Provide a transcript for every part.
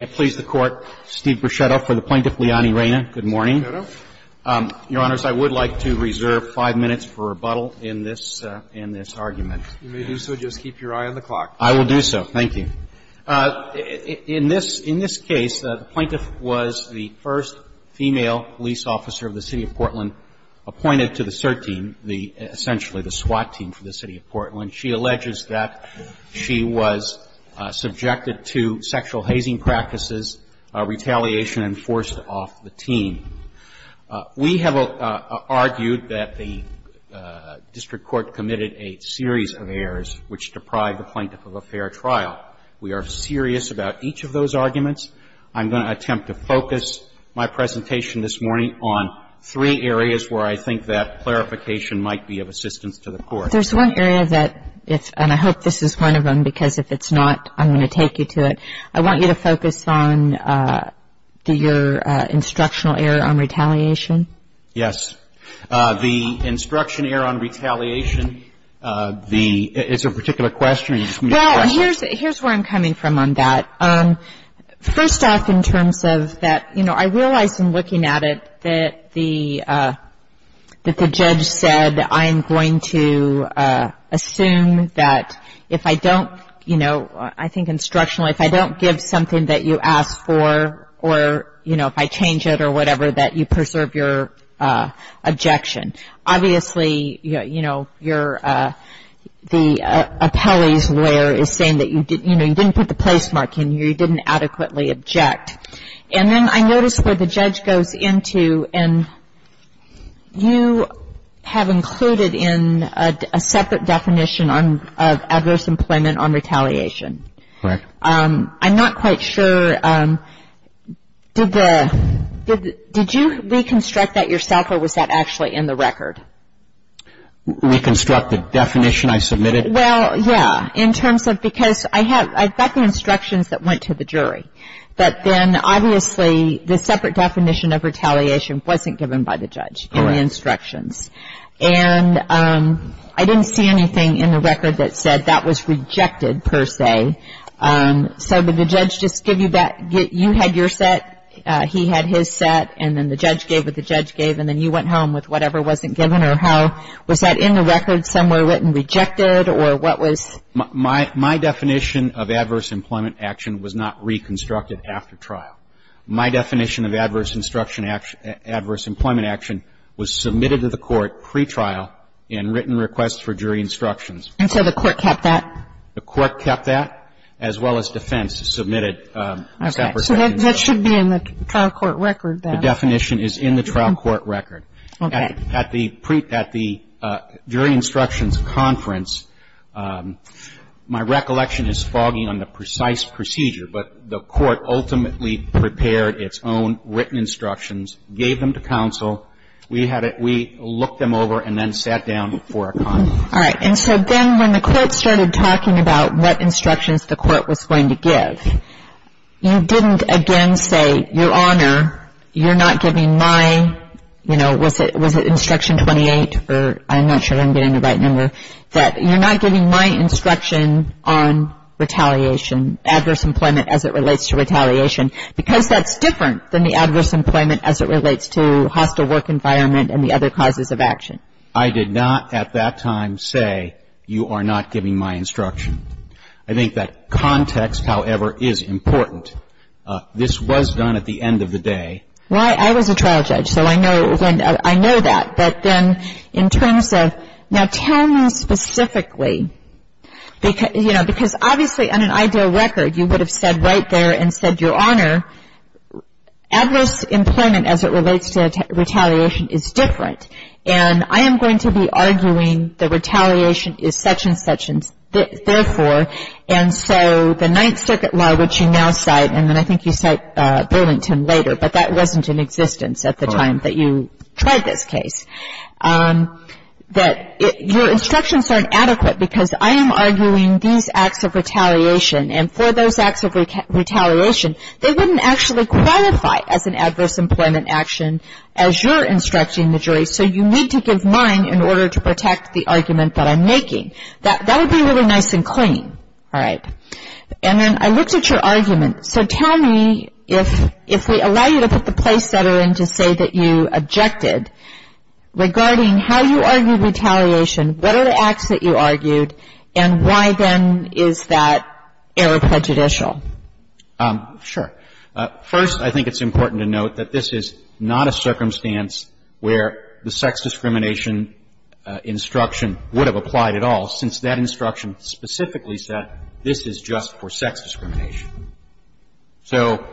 I please the Court, Steve Bruschetto for the Plaintiff, Leonie Reyna. Good morning. Bruschetto. Your Honors, I would like to reserve five minutes for rebuttal in this argument. You may do so. Just keep your eye on the clock. I will do so. Thank you. In this case, the Plaintiff was the first female police officer of the City of Portland appointed to the SIRT team, essentially the SWAT team for the City of Portland. And she alleges that she was subjected to sexual hazing practices, retaliation and forced off the team. We have argued that the district court committed a series of errors which deprived the Plaintiff of a fair trial. We are serious about each of those arguments. I'm going to attempt to focus my presentation this morning on three areas where I think that clarification might be of assistance to the Court. There's one area that, and I hope this is one of them, because if it's not, I'm going to take you to it. I want you to focus on your instructional error on retaliation. Yes. The instruction error on retaliation, it's a particular question. Well, here's where I'm coming from on that. First off, in terms of that, you know, I realize in looking at it that the judge said, I'm going to assume that if I don't, you know, I think instructional, if I don't give something that you ask for or, you know, if I change it or whatever, that you preserve your objection. Obviously, you know, the appellee's lawyer is saying that, you know, you didn't put the placemark in here, you didn't adequately object. And then I notice where the judge goes into, and you have included in a separate definition of adverse employment on retaliation. Correct. I'm not quite sure. Did you reconstruct that yourself or was that actually in the record? Reconstruct the definition I submitted? Well, yeah. In terms of because I have, I've got the instructions that went to the jury. But then, obviously, the separate definition of retaliation wasn't given by the judge in the instructions. And I didn't see anything in the record that said that was rejected, per se. So did the judge just give you that, you had your set, he had his set, and then the judge gave what the judge gave, and then you went home with whatever wasn't given? Well, my definition of adverse employment action was not reconstructed after trial. My definition of adverse instruction, adverse employment action was submitted to the court pretrial in written request for jury instructions. And so the court kept that? The court kept that, as well as defense, submitted separate instructions. So that should be in the trial court record. The definition is in the trial court record. Okay. At the jury instructions conference, my recollection is fogging on the precise procedure, but the court ultimately prepared its own written instructions, gave them to counsel. We looked them over and then sat down for a conference. All right. And so then when the court started talking about what instructions the court was going to give, you didn't again say, Your Honor, you're not giving my, you know, was it instruction 28? I'm not sure I'm getting the right number. You're not giving my instruction on retaliation, adverse employment as it relates to retaliation, because that's different than the adverse employment as it relates to hostile work environment and the other causes of action. I did not at that time say you are not giving my instruction. I think that context, however, is important. This was done at the end of the day. Well, I was a trial judge, so I know that. But then in terms of, now, tell me specifically, you know, because obviously on an ideal record, you would have said right there and said, Your Honor, adverse employment as it relates to retaliation is different. And I am going to be arguing the retaliation is such and such and therefore. And so the Ninth Circuit law, which you now cite, and then I think you cite Burlington later, but that wasn't in existence at the time that you tried this case, that your instructions aren't adequate, because I am arguing these acts of retaliation. And for those acts of retaliation, they wouldn't actually qualify as an adverse employment action as you're instructing the jury. So you need to give mine in order to protect the argument that I'm making. That would be really nice and clean. All right. And then I looked at your argument. So tell me, if we allow you to put the place setter in to say that you objected, regarding how you argue retaliation, what are the acts that you argued, and why, then, is that error prejudicial? Sure. First, I think it's important to note that this is not a circumstance where the sex discrimination instruction would have applied at all, since that instruction specifically said this is just for sex discrimination. So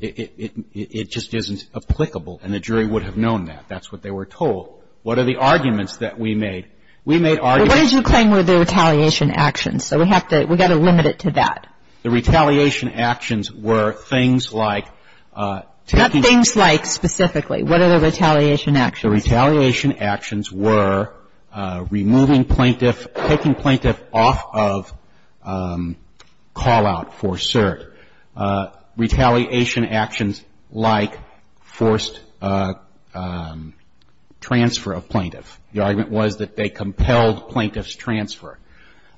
it just isn't applicable, and the jury would have known that. That's what they were told. What are the arguments that we made? We made arguments. But what did you claim were the retaliation actions? So we have to limit it to that. The retaliation actions were things like taking the ---- What things like, specifically? What are the retaliation actions? The retaliation actions were removing plaintiff, taking plaintiff off of call-out for cert. Retaliation actions like forced transfer of plaintiff. The argument was that they compelled plaintiff's transfer.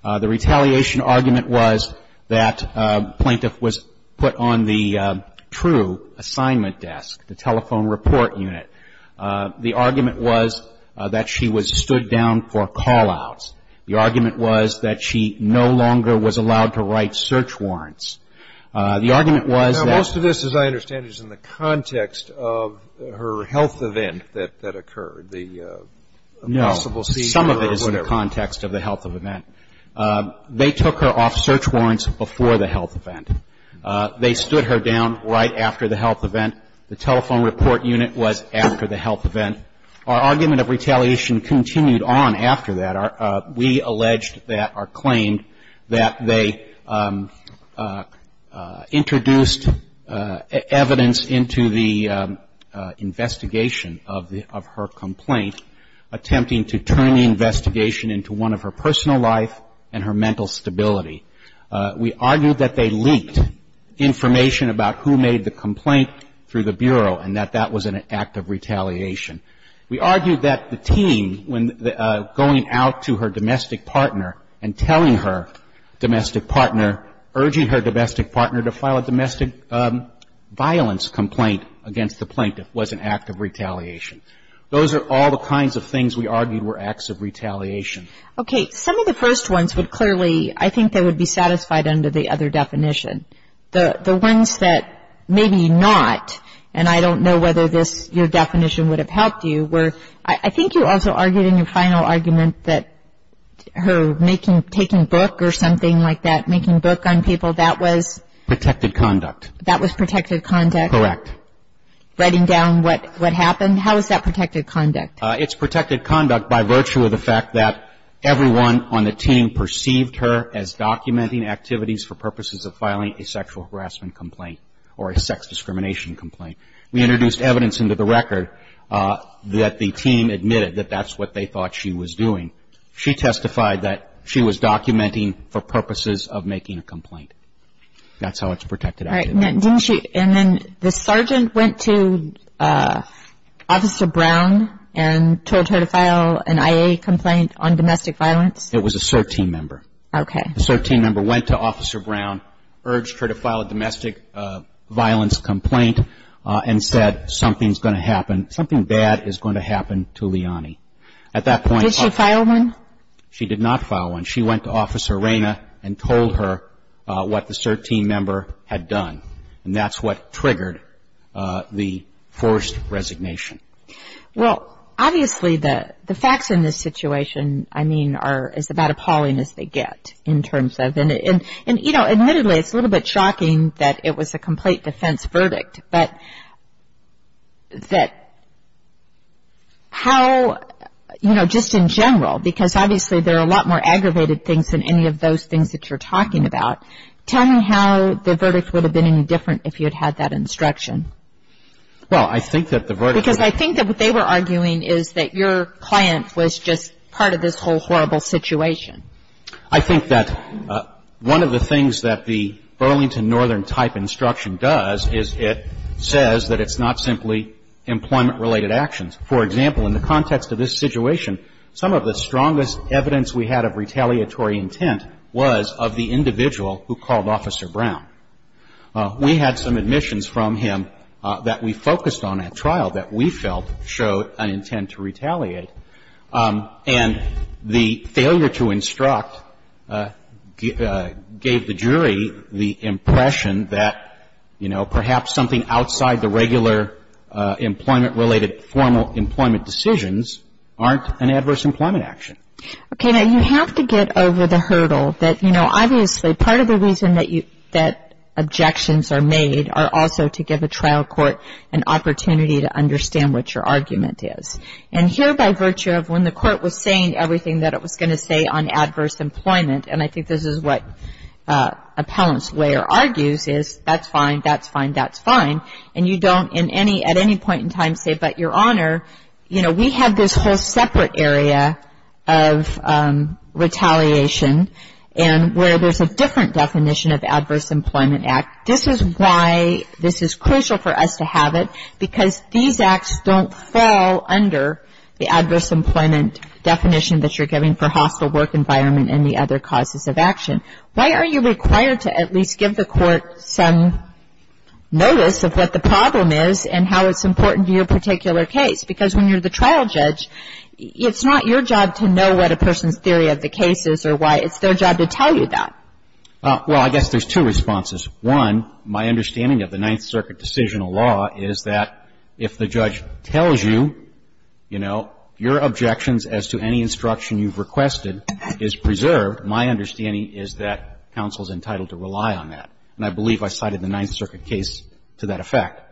The retaliation argument was that plaintiff was put on the true assignment desk, the telephone report unit. The argument was that she was stood down for call-outs. The argument was that she no longer was allowed to write search warrants. The argument was that ---- Now, most of this, as I understand it, is in the context of her health event that occurred, the possible seizure or whatever. It's in the context of the health event. They took her off search warrants before the health event. They stood her down right after the health event. The telephone report unit was after the health event. Our argument of retaliation continued on after that. We alleged that or claimed that they introduced evidence into the investigation of her complaint, attempting to turn the investigation into one of her personal life and her mental stability. We argued that they leaked information about who made the complaint through the Bureau and that that was an act of retaliation. We argued that the team, when going out to her domestic partner and telling her domestic partner, urging her domestic partner to file a domestic violence complaint against the plaintiff, was an act of retaliation. Those are all the kinds of things we argued were acts of retaliation. Okay. Some of the first ones would clearly, I think, they would be satisfied under the other definition. The ones that maybe not, and I don't know whether this, your definition would have helped you, were, I think you also argued in your final argument that her making, taking book or something like that, making book on people, that was? Protected conduct. That was protected conduct? Correct. Writing down what happened? How is that protected conduct? It's protected conduct by virtue of the fact that everyone on the team perceived her as documenting activities for purposes of filing a sexual harassment complaint or a sex discrimination complaint. We introduced evidence into the record that the team admitted that that's what they thought she was doing. She testified that she was documenting for purposes of making a complaint. That's how it's protected activity. Didn't she, and then the sergeant went to Officer Brown and told her to file an IA complaint on domestic violence? It was a SIRT team member. Okay. The SIRT team member went to Officer Brown, urged her to file a domestic violence complaint, and said, something's going to happen, something bad is going to happen to Leonie. At that point. Did she file one? She did not file one. She went to Officer Reyna and told her what the SIRT team member had done, and that's what triggered the forced resignation. Well, obviously the facts in this situation, I mean, are as about appalling as they get in terms of, and, you know, admittedly, it's a little bit shocking that it was a complete defense verdict. But that how, you know, just in general, because obviously there are a lot more aggravated things than any of those things that you're talking about, tell me how the verdict would have been any different if you had had that instruction. Well, I think that the verdict Because I think that what they were arguing is that your client was just part of this whole horrible situation. I think that one of the things that the Burlington Northern type instruction does is it says that it's not simply employment-related actions. For example, in the context of this situation, some of the strongest evidence we had of retaliatory intent was of the individual who called Officer Brown. We had some admissions from him that we focused on at trial that we felt showed an intent to retaliate. And the failure to instruct gave the jury the impression that, you know, perhaps something outside the regular employment-related formal employment decisions aren't an adverse employment action. Okay. Now, you have to get over the hurdle that, you know, obviously part of the reason that objections are made are also to give a trial court an opportunity to understand what your argument is. And here, by virtue of when the court was saying everything that it was going to say on adverse employment, and I think this is what appellant's lawyer argues, is that's fine, that's fine, that's fine. And you don't at any point in time say, but, Your Honor, you know, we have this whole separate area of retaliation and where there's a different definition of adverse employment act. This is why this is crucial for us to have it, because these acts don't fall under the adverse employment definition that you're giving for hostile work environment and the other causes of action. Why are you required to at least give the court some notice of what the problem is and how it's important to your particular case? Because when you're the trial judge, it's not your job to know what a person's theory of the case is or why. It's their job to tell you that. Well, I guess there's two responses. One, my understanding of the Ninth Circuit decisional law is that if the judge tells you, you know, your objections as to any instruction you've requested is preserved, my understanding is that counsel is entitled to rely on that. And I believe I cited the Ninth Circuit case to that effect.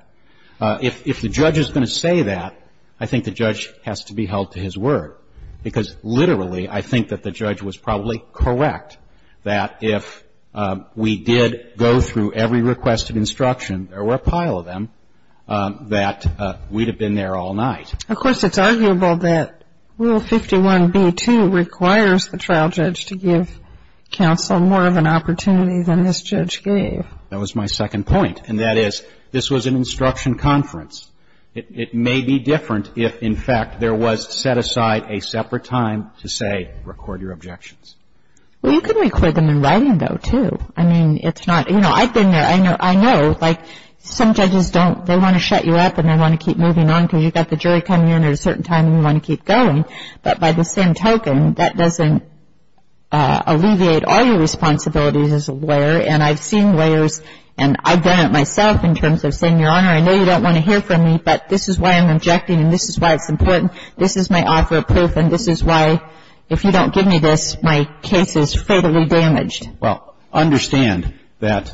If the judge is going to say that, I think the judge has to be held to his word. Because literally, I think that the judge was probably correct that if we did go through every request of instruction, there were a pile of them, that we'd have been there all night. Of course, it's arguable that Rule 51b-2 requires the trial judge to give counsel more of an opportunity than this judge gave. That was my second point. And that is, this was an instruction conference. It may be different if, in fact, there was set aside a separate time to say, record your objections. Well, you could record them in writing, though, too. I mean, it's not, you know, I've been there. I know, like, some judges don't, they want to shut you up and they want to keep moving on because you've got the jury coming in at a certain time and you want to keep going. But by the same token, that doesn't alleviate all your responsibilities as a lawyer. And I've seen lawyers, and I've done it myself in terms of saying, Your Honor, I know you don't want to hear from me, but this is why I'm objecting and this is why it's important. This is my offer of proof and this is why, if you don't give me this, my case is fatally damaged. Well, understand that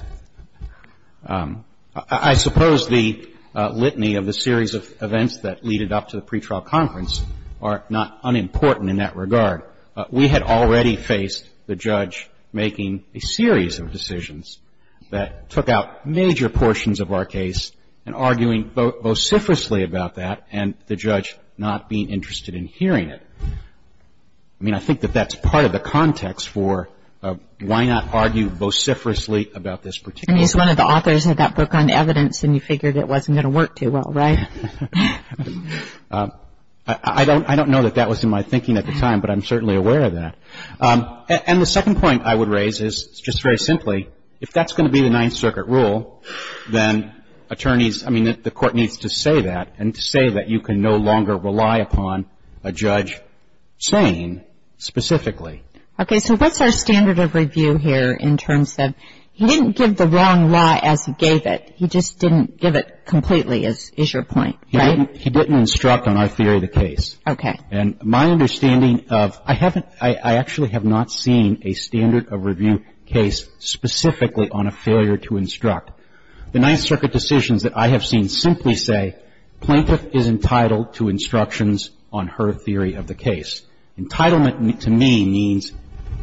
I suppose the litany of the series of events that leaded up to the pretrial conference are not unimportant in that regard. We had already faced the judge making a series of decisions that took out major portions of our case and arguing vociferously about that and the judge not being interested in hearing it. I mean, I think that that's part of the context for why not argue vociferously about this particular case. And he's one of the authors of that book on evidence and you figured it wasn't going to work too well, right? I don't know that that was in my thinking at the time, but I'm certainly aware of that. And the second point I would raise is, just very simply, if that's going to be the Ninth Circuit, then attorneys, I mean, the Court needs to say that and to say that you can no longer rely upon a judge saying specifically. Okay. So what's our standard of review here in terms of he didn't give the wrong law as he gave it. He just didn't give it completely is your point, right? He didn't instruct on our theory of the case. Okay. And my understanding of, I haven't, I actually have not seen a standard of review case specifically on a failure to instruct. The Ninth Circuit decisions that I have seen simply say, plaintiff is entitled to instructions on her theory of the case. Entitlement to me means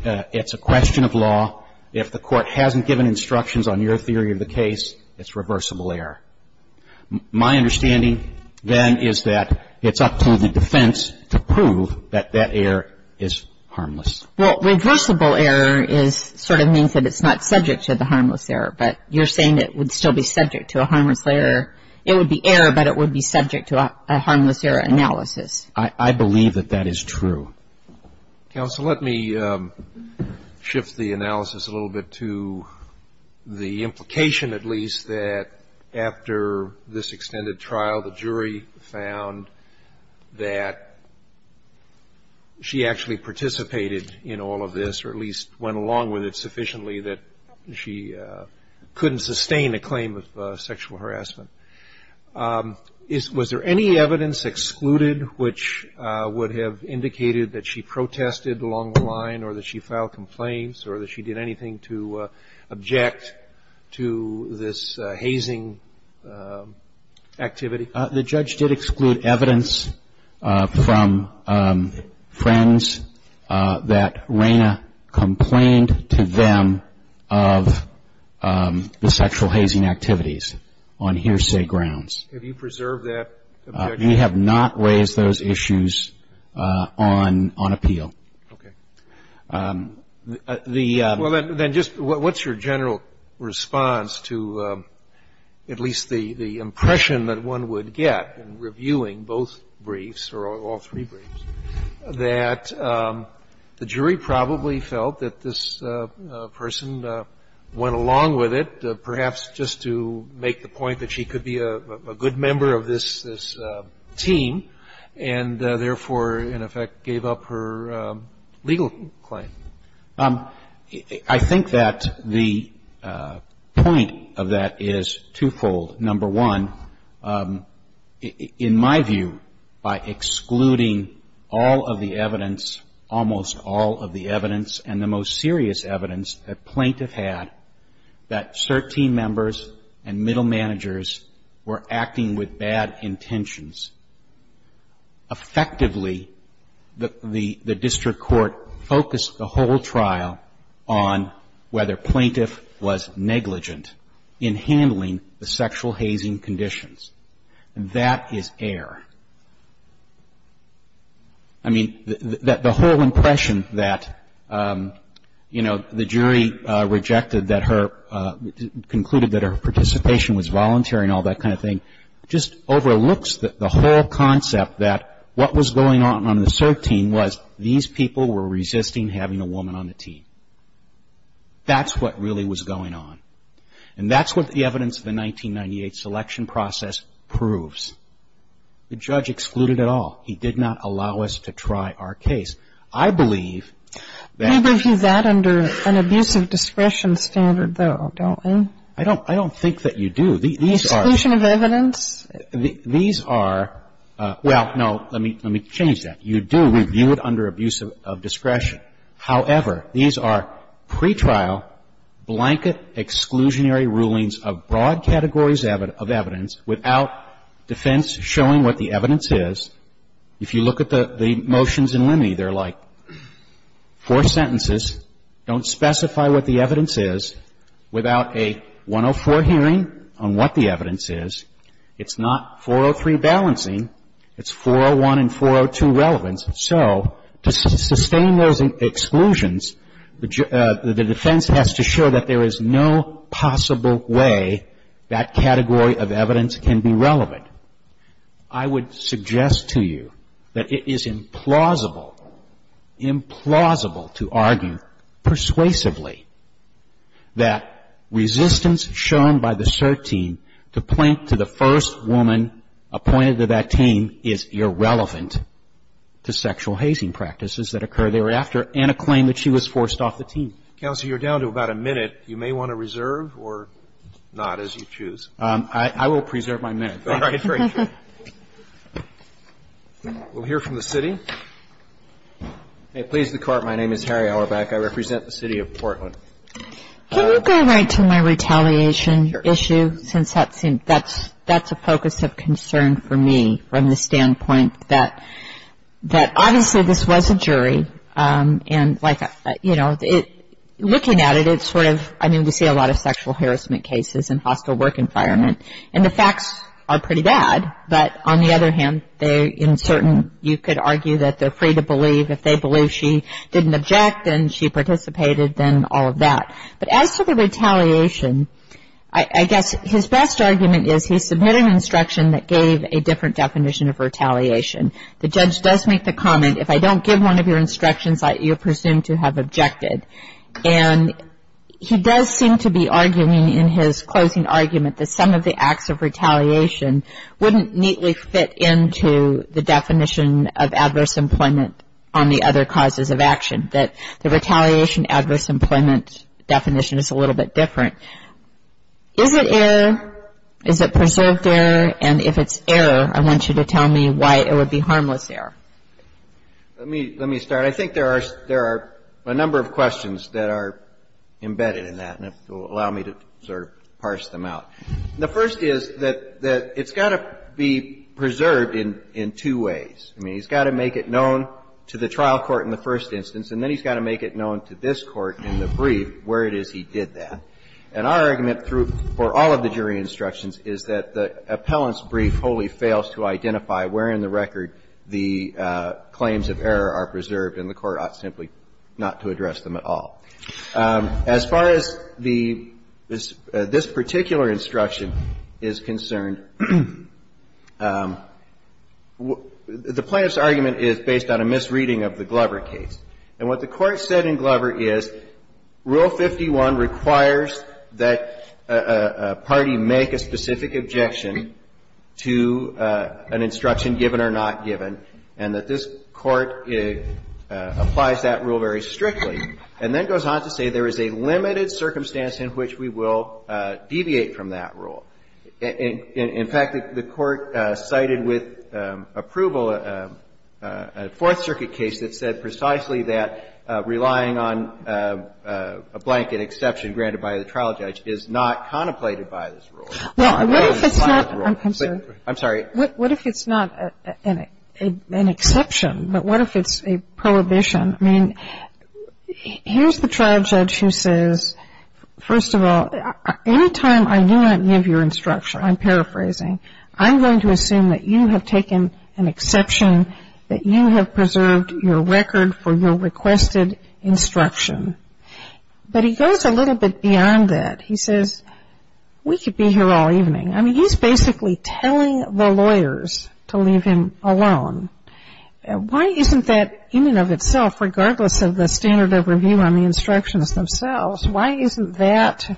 it's a question of law. If the Court hasn't given instructions on your theory of the case, it's reversible error. My understanding, then, is that it's up to the defense to prove that that error is harmless. Well, reversible error is, sort of means that it's not subject to the harmless error. But you're saying it would still be subject to a harmless error. It would be error, but it would be subject to a harmless error analysis. I believe that that is true. Counsel, let me shift the analysis a little bit to the implication, at least, that after this extended trial, the jury found that she actually participated in all of this, or at least went along with it sufficiently that she couldn't sustain a claim of sexual harassment. Was there any evidence excluded which would have indicated that she protested along the line or that she filed complaints or that she did anything to object to this hazing activity? The judge did exclude evidence from friends that Rayna complained to them of the sexual hazing activities on hearsay grounds. Have you preserved that objection? We have not raised those issues on appeal. Okay. Well, then just what's your general response to at least the impression that one would get in reviewing both briefs or all three briefs, that the jury probably felt that this person went along with it perhaps just to make the point that she could be a good member of this team and therefore, in effect, gave up her legal claim? I think that the point of that is twofold. Number one, in my view, by excluding all of the evidence, almost all of the evidence and the most serious evidence that plaintiff had, that cert team members and middle managers were acting with bad intentions. Effectively, the district court focused the whole trial on whether plaintiff was negligent in handling the sexual hazing conditions. And that is error. I mean, the whole impression that, you know, the jury rejected that her, concluded that her participation was voluntary and all that kind of thing, just overlooks the whole concept that what was going on on the cert team was these people were resisting having a woman on the team. That's what really was going on. And that's what the evidence of the 1998 selection process proves. The judge excluded it all. He did not allow us to try our case. I believe that. We review that under an abuse of discretion standard, though, don't we? I don't think that you do. The exclusion of evidence? These are, well, no, let me change that. You do review it under abuse of discretion. However, these are pretrial blanket exclusionary rulings of broad categories of evidence without defense showing what the evidence is. If you look at the motions in Limney, they're like four sentences, don't specify what the evidence is, without a 104 hearing on what the evidence is. It's not 403 balancing. It's 401 and 402 relevance. So to sustain those exclusions, the defense has to show that there is no possible way that category of evidence can be relevant. If you look at the motions in Limney, they're like four sentences, don't specify what the evidence is, without a 104 hearing on what the evidence is. I would suggest to you that it is implausible, implausible to argue persuasively that resistance shown by the cert team to plink to the first woman appointed to that team is irrelevant to sexual hazing practices that occur thereafter and a claim that she was forced off the team. Counsel, you're down to about a minute. You may want to reserve or not, as you choose. I will preserve my minute. All right, great. We'll hear from the city. May it please the Court. My name is Harry Auerbach. I represent the city of Portland. Can you go right to my retaliation issue, since that's a focus of concern for me, from the standpoint that obviously this was a jury, and, like, you know, looking at it, it's sort of, I mean, we see a lot of sexual harassment cases in hostile work environment, and the facts are pretty bad. But on the other hand, they're uncertain. You could argue that they're free to believe. If they believe she didn't object and she participated, then all of that. But as to the retaliation, I guess his best argument is he submitted an instruction that gave a different definition of retaliation. The judge does make the comment, if I don't give one of your instructions, you're presumed to have objected. And he does seem to be arguing in his closing argument that some of the acts of retaliation wouldn't neatly fit into the definition of adverse employment on the other causes of action, that the retaliation adverse employment definition is a little bit different. Is it error? Is it preserved error? And if it's error, I want you to tell me why it would be harmless error. Let me start. I think there are a number of questions that are embedded in that, and if you'll allow me to sort of parse them out. The first is that it's got to be preserved in two ways. I mean, he's got to make it known to the trial court in the first instance, and then he's got to make it known to this Court in the brief where it is he did that. And our argument for all of the jury instructions is that the appellant's brief wholly fails to identify where in the record the claims of error are preserved and the Court ought simply not to address them at all. As far as this particular instruction is concerned, the plaintiff's argument is based on a misreading of the Glover case. And what the Court said in Glover is Rule 51 requires that a party make a specific objection to an instruction, given or not given, and that this Court applies that rule very strictly and then goes on to say there is a limited circumstance in which we will deviate from that rule. In fact, the Court cited with approval a Fourth Circuit case that said precisely that relying on a blanket exception granted by the trial judge is not contemplated by this rule. I'm sorry. What if it's not an exception, but what if it's a prohibition? I mean, here's the trial judge who says, first of all, any time I do not give your instruction, I'm paraphrasing, I'm going to assume that you have taken an exception, that you have preserved your record for your requested instruction. But he goes a little bit beyond that. He says, we could be here all evening. I mean, he's basically telling the lawyers to leave him alone. Why isn't that in and of itself, regardless of the standard of review on the instructions themselves, why isn't that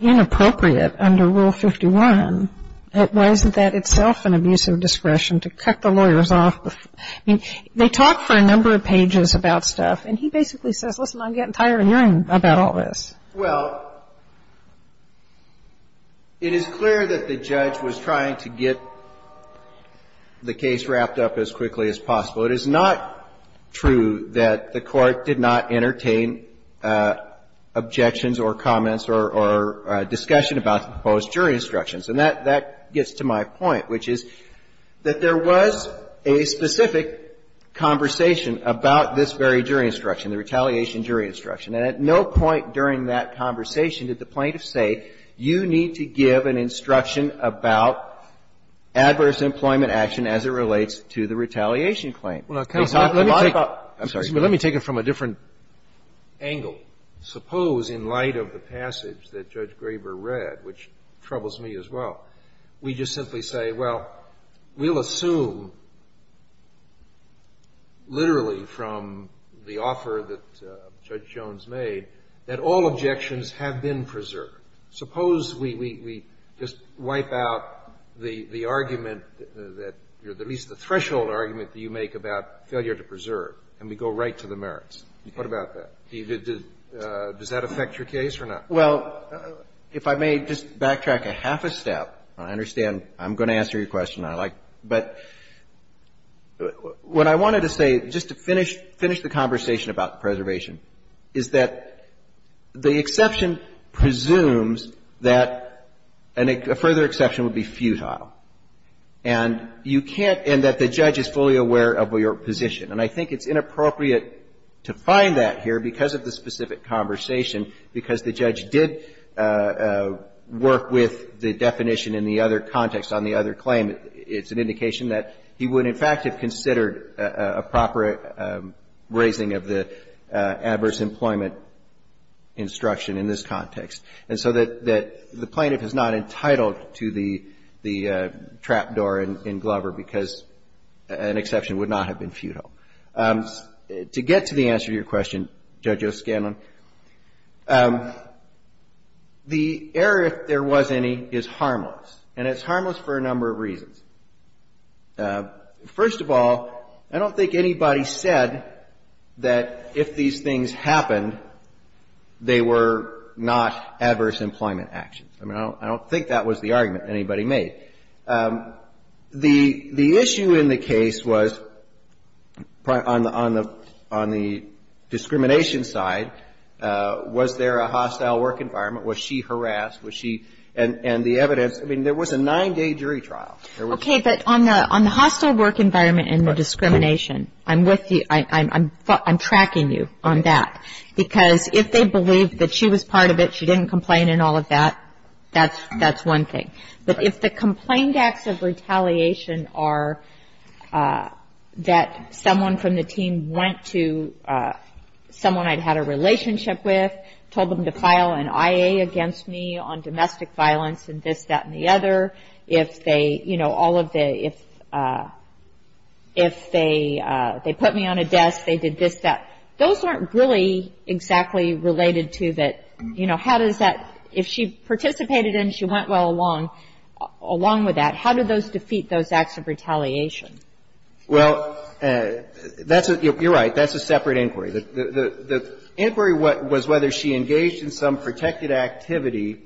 inappropriate under Rule 51? Why isn't that itself an abuse of discretion to cut the lawyers off? I mean, they talk for a number of pages about stuff, and he basically says, listen, I'm getting tired of hearing about all this. Well, it is clear that the judge was trying to get the case wrapped up as quickly as possible. It is not true that the Court did not entertain objections or comments or discussion about the proposed jury instructions. And that gets to my point, which is that there was a specific conversation about this very jury instruction, the retaliation jury instruction. And at no point during that conversation did the plaintiff say, you need to give an instruction about adverse employment action as it relates to the retaliation claim. They talked a lot about it. I'm sorry. But let me take it from a different angle. Suppose in light of the passage that Judge Graber read, which troubles me as well, we just simply say, well, we'll assume literally from the offer that Judge Jones made that all objections have been preserved. Suppose we just wipe out the argument that you're at least the threshold argument that you make about failure to preserve, and we go right to the merits. What about that? Does that affect your case or not? Well, if I may just backtrack a half a step. I understand I'm going to answer your question, I like. But what I wanted to say, just to finish the conversation about preservation, is that the exception presumes that a further exception would be futile. And you can't, and that the judge is fully aware of your position. And I think it's inappropriate to find that here because of the specific conversation, because the judge did work with the definition in the other context on the other claim. It's an indication that he would in fact have considered a proper raising of the adverse employment instruction in this context. And so that the plaintiff is not entitled to the trap door in Glover because an exception would not have been futile. To get to the answer to your question, Judge O'Scanlan, the error, if there was any, is harmless. And it's harmless for a number of reasons. First of all, I don't think anybody said that if these things happened, they were not adverse employment actions. I mean, I don't think that was the argument anybody made. The issue in the case was, on the discrimination side, was there a hostile work environment? Was she harassed? Was she, and the evidence, I mean, there was a nine-day jury trial. Okay, but on the hostile work environment and the discrimination, I'm with you, I'm tracking you on that. Because if they believed that she was part of it, she didn't complain and all of that, that's one thing. But if the complained acts of retaliation are that someone from the team went to someone I'd had a relationship with, told them to file an IA against me on domestic violence and this, that, and the other. If they, you know, all of the, if they put me on a desk, they did this, that. Those aren't really exactly related to that, you know, how does that, if she participated and she went well along, along with that, how do those defeat those acts of retaliation? Well, that's a, you're right, that's a separate inquiry. The inquiry was whether she engaged in some protected activity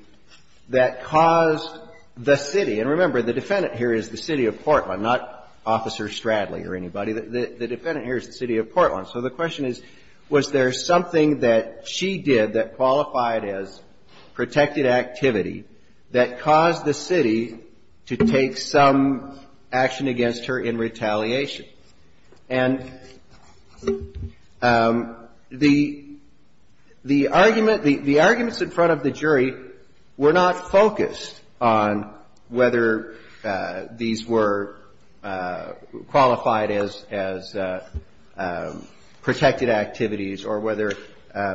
that caused the city. And remember, the defendant here is the city of Portland, not Officer Stradley or anybody. The defendant here is the city of Portland. So the question is, was there something that she did that qualified as protected activity that caused the city to take some action against her in retaliation? And the, the argument, the arguments in front of the jury were not focused on whether these were qualified as, as protected activities or whether it was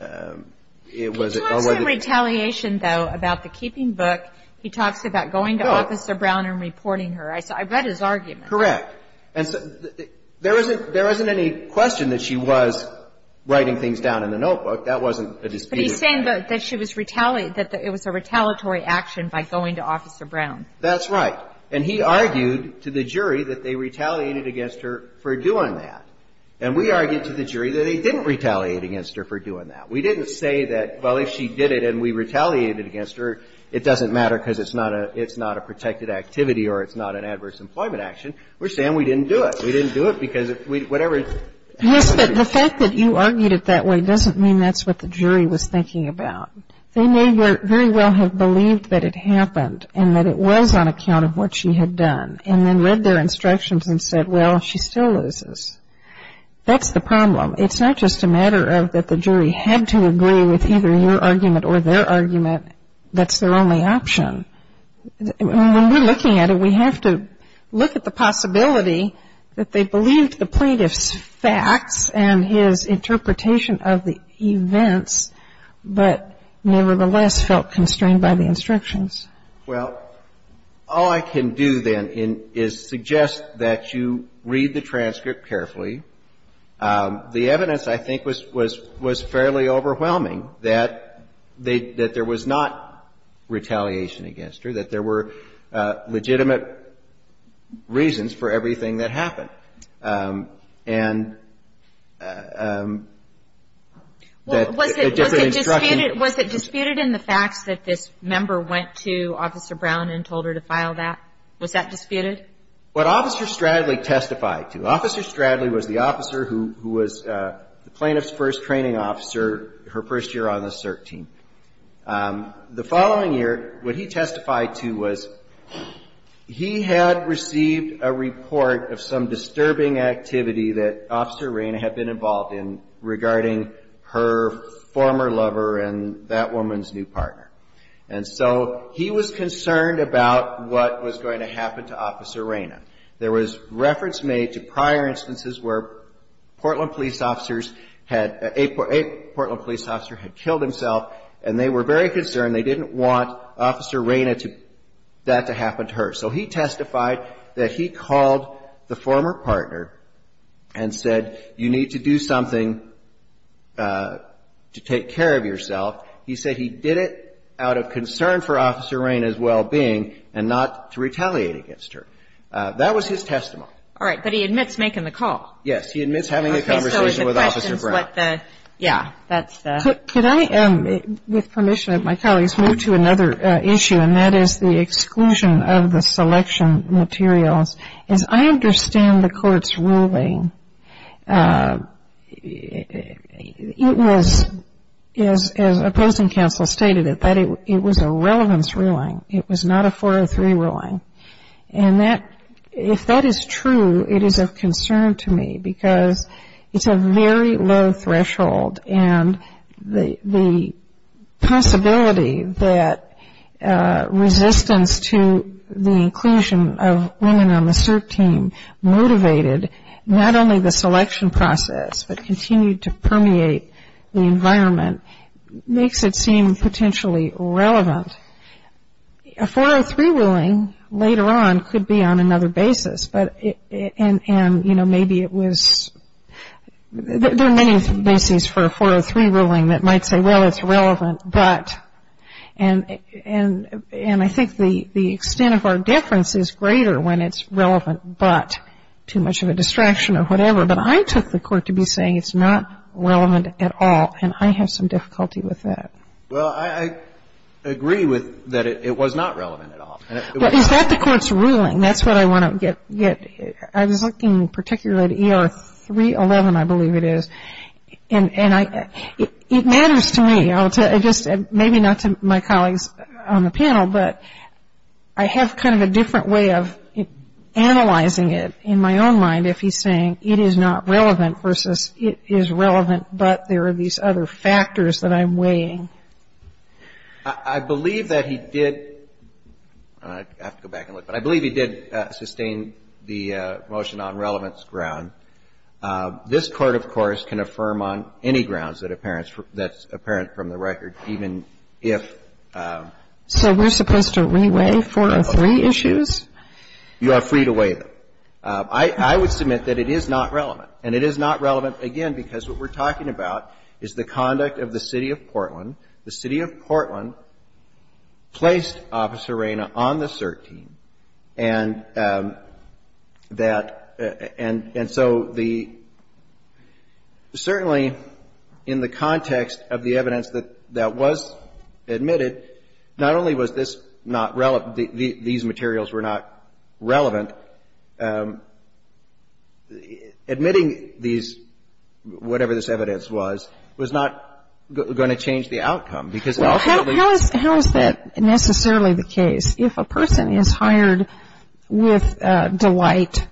a, or whether. She was in retaliation, though, about the keeping book. He talks about going to Officer Brown and reporting her. I saw, I read his argument. Correct. And so there isn't, there isn't any question that she was writing things down in the notebook. That wasn't a disputed act. But he's saying that she was retaliated, that it was a retaliatory action by going to Officer Brown. That's right. And he argued to the jury that they retaliated against her for doing that. And we argued to the jury that they didn't retaliate against her for doing that. We didn't say that, well, if she did it and we retaliated against her, it doesn't matter because it's not a, it's not a protected activity or it's not an adverse employment action. We're saying we didn't do it. We didn't do it because whatever. Yes, but the fact that you argued it that way doesn't mean that's what the jury was thinking about. They may very well have believed that it happened and that it was on account of what she had done and then read their instructions and said, well, she still loses. That's the problem. It's not just a matter of that the jury had to agree with either your argument or their argument. And that's their only option. When we're looking at it, we have to look at the possibility that they believed the plaintiff's facts and his interpretation of the events, but nevertheless felt constrained by the instructions. Well, all I can do then is suggest that you read the transcript carefully. The evidence, I think, was fairly overwhelming, that there was not retaliation against her, that there were legitimate reasons for everything that happened. And the different instructions. Was it disputed in the facts that this member went to Officer Brown and told her to file that? Was that disputed? What Officer Stradley testified to. Officer Stradley was the officer who was the plaintiff's first training officer her first year on the CERT team. The following year, what he testified to was he had received a report of some disturbing activity that Officer Reyna had been involved in regarding her former lover and that woman's new partner. And so he was concerned about what was going to happen to Officer Reyna. There was reference made to prior instances where Portland police officers had, a Portland police officer had killed himself and they were very concerned, they didn't want Officer Reyna to, that to happen to her. So he testified that he called the former partner and said, you need to do something to take care of yourself. He said he did it out of concern for Officer Reyna's well-being and not to retaliate against her. That was his testimony. All right, but he admits making the call. Yes, he admits having a conversation with Officer Brown. Okay, so the question is what the, yeah, that's the. Could I, with permission of my colleagues, move to another issue, and that is the exclusion of the selection materials. As I understand the Court's ruling, it was, as opposing counsel stated it, that it was a relevance ruling. It was not a 403 ruling. And that, if that is true, it is of concern to me because it's a very low threshold and the possibility that resistance to the inclusion of women on the CERT team motivated not only the selection process, but continued to permeate the environment, makes it seem potentially irrelevant. A 403 ruling later on could be on another basis, but, and, you know, maybe it was, there are many bases for a 403 ruling that might say, well, it's relevant, but. And I think the extent of our difference is greater when it's relevant, but. It's not too much of a distraction or whatever. But I took the Court to be saying it's not relevant at all, and I have some difficulty with that. Well, I agree with that it was not relevant at all. But is that the Court's ruling? That's what I want to get. I was looking particularly at ER 311, I believe it is, and I, it matters to me. I'll tell you, I just, maybe not to my colleagues on the panel, but I have kind of a different way of analyzing it in my own mind if he's saying it is not relevant versus it is relevant, but there are these other factors that I'm weighing. I believe that he did, I have to go back and look, but I believe he did sustain the motion on relevance ground. This Court, of course, can affirm on any grounds that's apparent from the record, even if. So we're supposed to re-weigh 403 issues? You are free to weigh them. I would submit that it is not relevant. And it is not relevant, again, because what we're talking about is the conduct of the City of Portland. The City of Portland placed Officer Reyna on the cert team, and that, and so it's not So the, certainly in the context of the evidence that was admitted, not only was this not relevant, these materials were not relevant, admitting these, whatever this evidence was, was not going to change the outcome because ultimately. How is that necessarily the case? If a person is hired with delight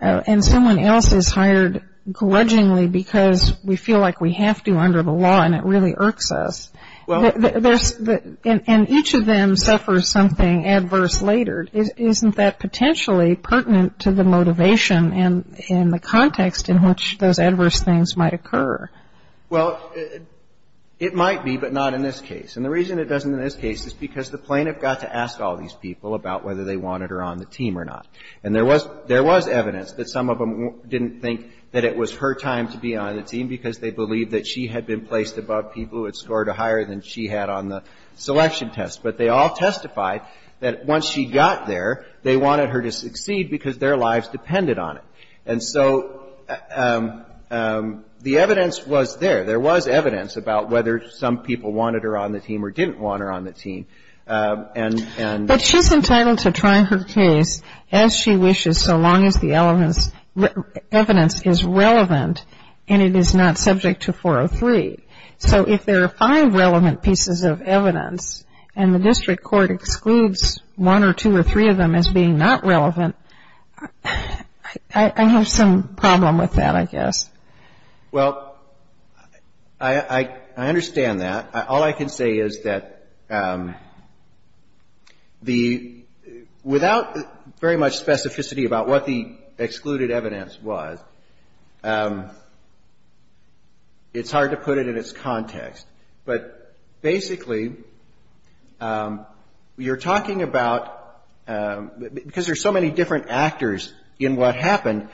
and someone else is hired grudgingly because we feel like we have to under the law and it really irks us, and each of them suffers something adverse later, isn't that potentially pertinent to the motivation and the context in which those adverse things might occur? Well, it might be, but not in this case. And the reason it doesn't in this case is because the plaintiff got to ask all these people about whether they wanted her on the team or not. And there was, there was evidence that some of them didn't think that it was her time to be on the team because they believed that she had been placed above people who had scored a higher than she had on the selection test. But they all testified that once she got there, they wanted her to succeed because their lives depended on it. And so the evidence was there. There was evidence about whether some people wanted her on the team or didn't want her on the team. But she's entitled to try her case as she wishes so long as the evidence is relevant and it is not subject to 403. So if there are five relevant pieces of evidence and the district court excludes one or two or three of them as being not relevant, I have some problem with that, I guess. Well, I understand that. All I can say is that the, without very much specificity about what the excluded evidence was, it's hard to put it in its context. But basically, you're talking about, because there's so many different actors in what happened,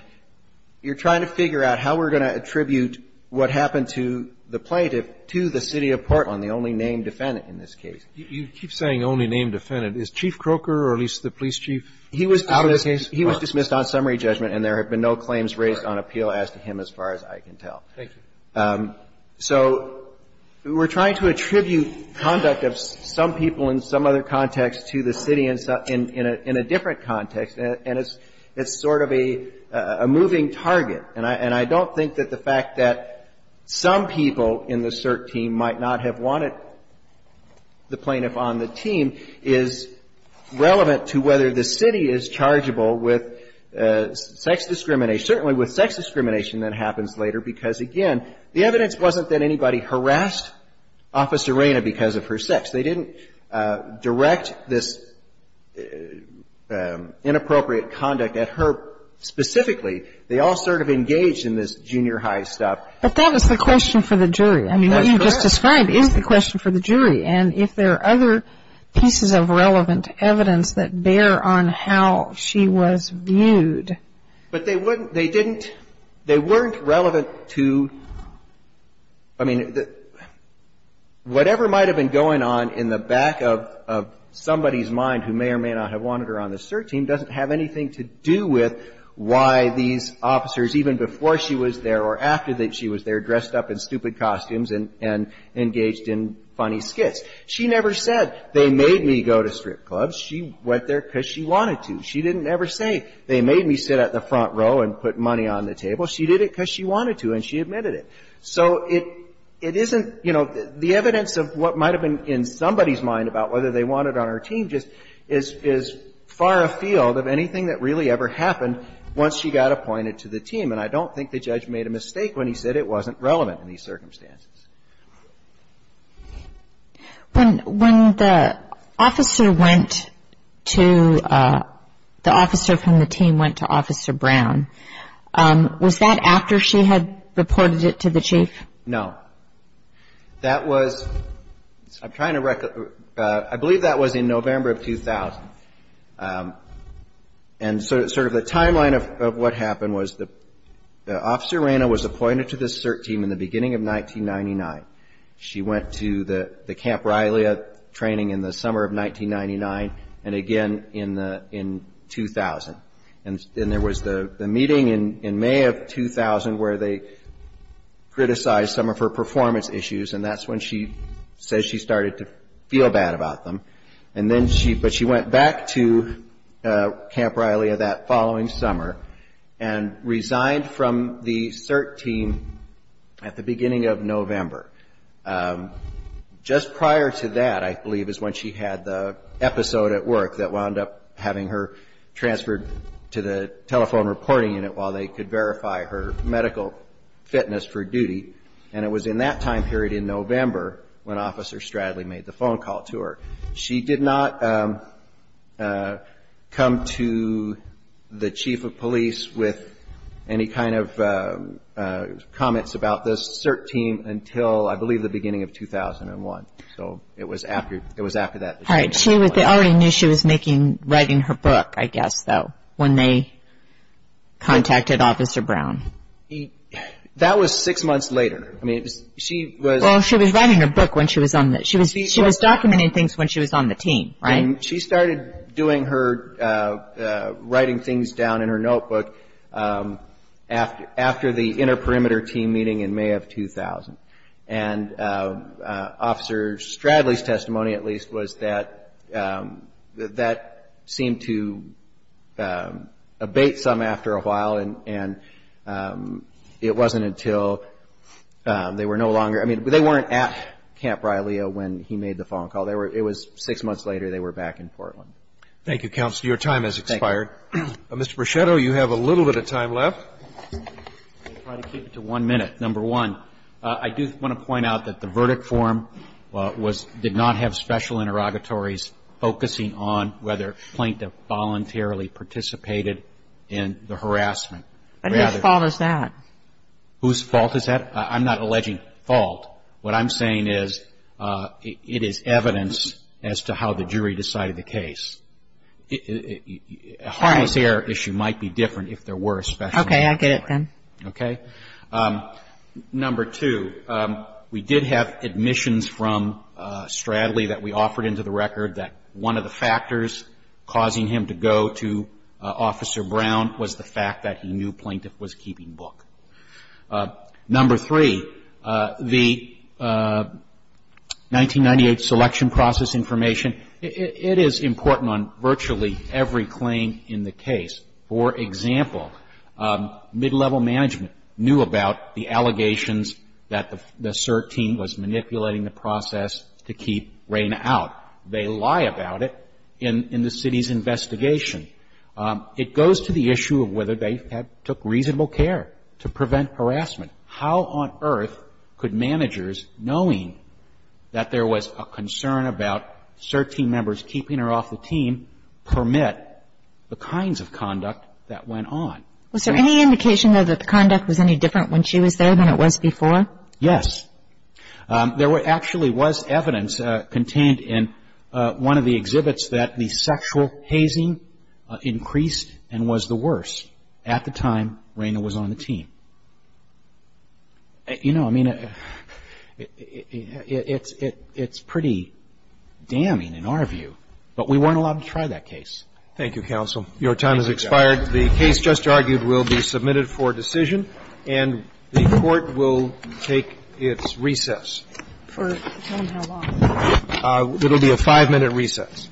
you're trying to figure out how we're going to attribute what happened to the plaintiff to the city of Portland, the only named defendant in this case. You keep saying only named defendant. Is Chief Croker or at least the police chief out of this case? He was dismissed on summary judgment and there have been no claims raised on appeal as to him as far as I can tell. Thank you. So we're trying to attribute conduct of some people in some other context to the city in a different context. And it's sort of a moving target. And I don't think that the fact that some people in the cert team might not have wanted the plaintiff on the team is relevant to whether the city is chargeable with sex discrimination, certainly with sex discrimination that happens later. Because, again, the evidence wasn't that anybody harassed Officer Reyna because of her sex. They didn't direct this inappropriate conduct at her specifically. They all sort of engaged in this junior high stuff. But that was the question for the jury. I mean, what you just described is the question for the jury. And if there are other pieces of relevant evidence that bear on how she was viewed. But they didn't, they weren't relevant to, I mean, whatever might have been going on in the back of somebody's mind who may or may not have wanted her on the cert team doesn't have anything to do with why these officers, even before she was there or after she was there, dressed up in stupid costumes and engaged in funny skits. She never said, they made me go to strip clubs. She went there because she wanted to. She didn't ever say, they made me sit at the front row and put money on the table. She did it because she wanted to and she admitted it. So it isn't, you know, the evidence of what might have been in somebody's mind about whether they wanted her on her team just is far afield of anything that really ever happened once she got appointed to the team. And I don't think the judge made a mistake when he said it wasn't relevant in these circumstances. When the officer went to, the officer from the team went to Officer Brown, was that after she had reported it to the chief? No. That was, I'm trying to, I believe that was in November of 2000. And sort of the timeline of what happened was that Officer Reyna was appointed to this CERT team in the beginning of 1999. She went to the Camp Rylia training in the summer of 1999 and again in 2000. And there was the meeting in May of 2000 where they criticized some of her performance issues and that's when she says she started to feel bad about them. And then she, but she went back to Camp Rylia that following summer and resigned from the CERT team at the beginning of November. Just prior to that, I believe, is when she had the episode at work that wound up having her transferred to the telephone reporting unit while they could verify her medical fitness for duty. And it was in that time period in November when Officer Stradley made the phone call to her. She did not come to the chief of police with any kind of comments about this CERT team until, I believe, the beginning of 2001. So it was after, it was after that. All right, she was, they already knew she was making, writing her book, I guess, though, when they contacted Officer Brown. That was six months later. Well, she was writing her book when she was on the, she was documenting things when she was on the team, right? She started doing her, writing things down in her notebook after the inter-perimeter team meeting in May of 2000. And Officer Stradley's testimony, at least, was that that seemed to abate some after a while. And it wasn't until they were no longer, I mean, they weren't at Camp Brialeo when he made the phone call. They were, it was six months later. They were back in Portland. Thank you, counsel. Your time has expired. Mr. Bruchetto, you have a little bit of time left. I'll try to keep it to one minute. Number one, I do want to point out that the verdict form was, did not have special interrogatories focusing on whether Plaintiff voluntarily participated in the harassment. And whose fault is that? Whose fault is that? I'm not alleging fault. What I'm saying is it is evidence as to how the jury decided the case. All right. A harmless error issue might be different if there were special interrogatories. Okay, I get it then. Okay. Number two, we did have admissions from Stradley that we offered into the record that one of the factors causing him to go to Officer Brown was the fact that he knew Plaintiff was keeping book. Number three, the 1998 selection process information, it is important on virtually every claim in the case. For example, mid-level management knew about the allegations that the CERT team was manipulating the process to keep Rayna out. They lie about it in the city's investigation. It goes to the issue of whether they took reasonable care to prevent harassment. How on earth could managers, knowing that there was a concern about CERT team members keeping her off the team, permit the kinds of conduct that went on? Was there any indication, though, that the conduct was any different when she was there than it was before? Yes. There actually was evidence contained in one of the exhibits that the sexual hazing increased and was the worst at the time Rayna was on the team. You know, I mean, it's pretty damning in our view. But we weren't allowed to try that case. Thank you, counsel. Your time has expired. The case just argued will be submitted for decision, and the Court will take its recess. For how long? It will be a five-minute recess. Thank you, counsel.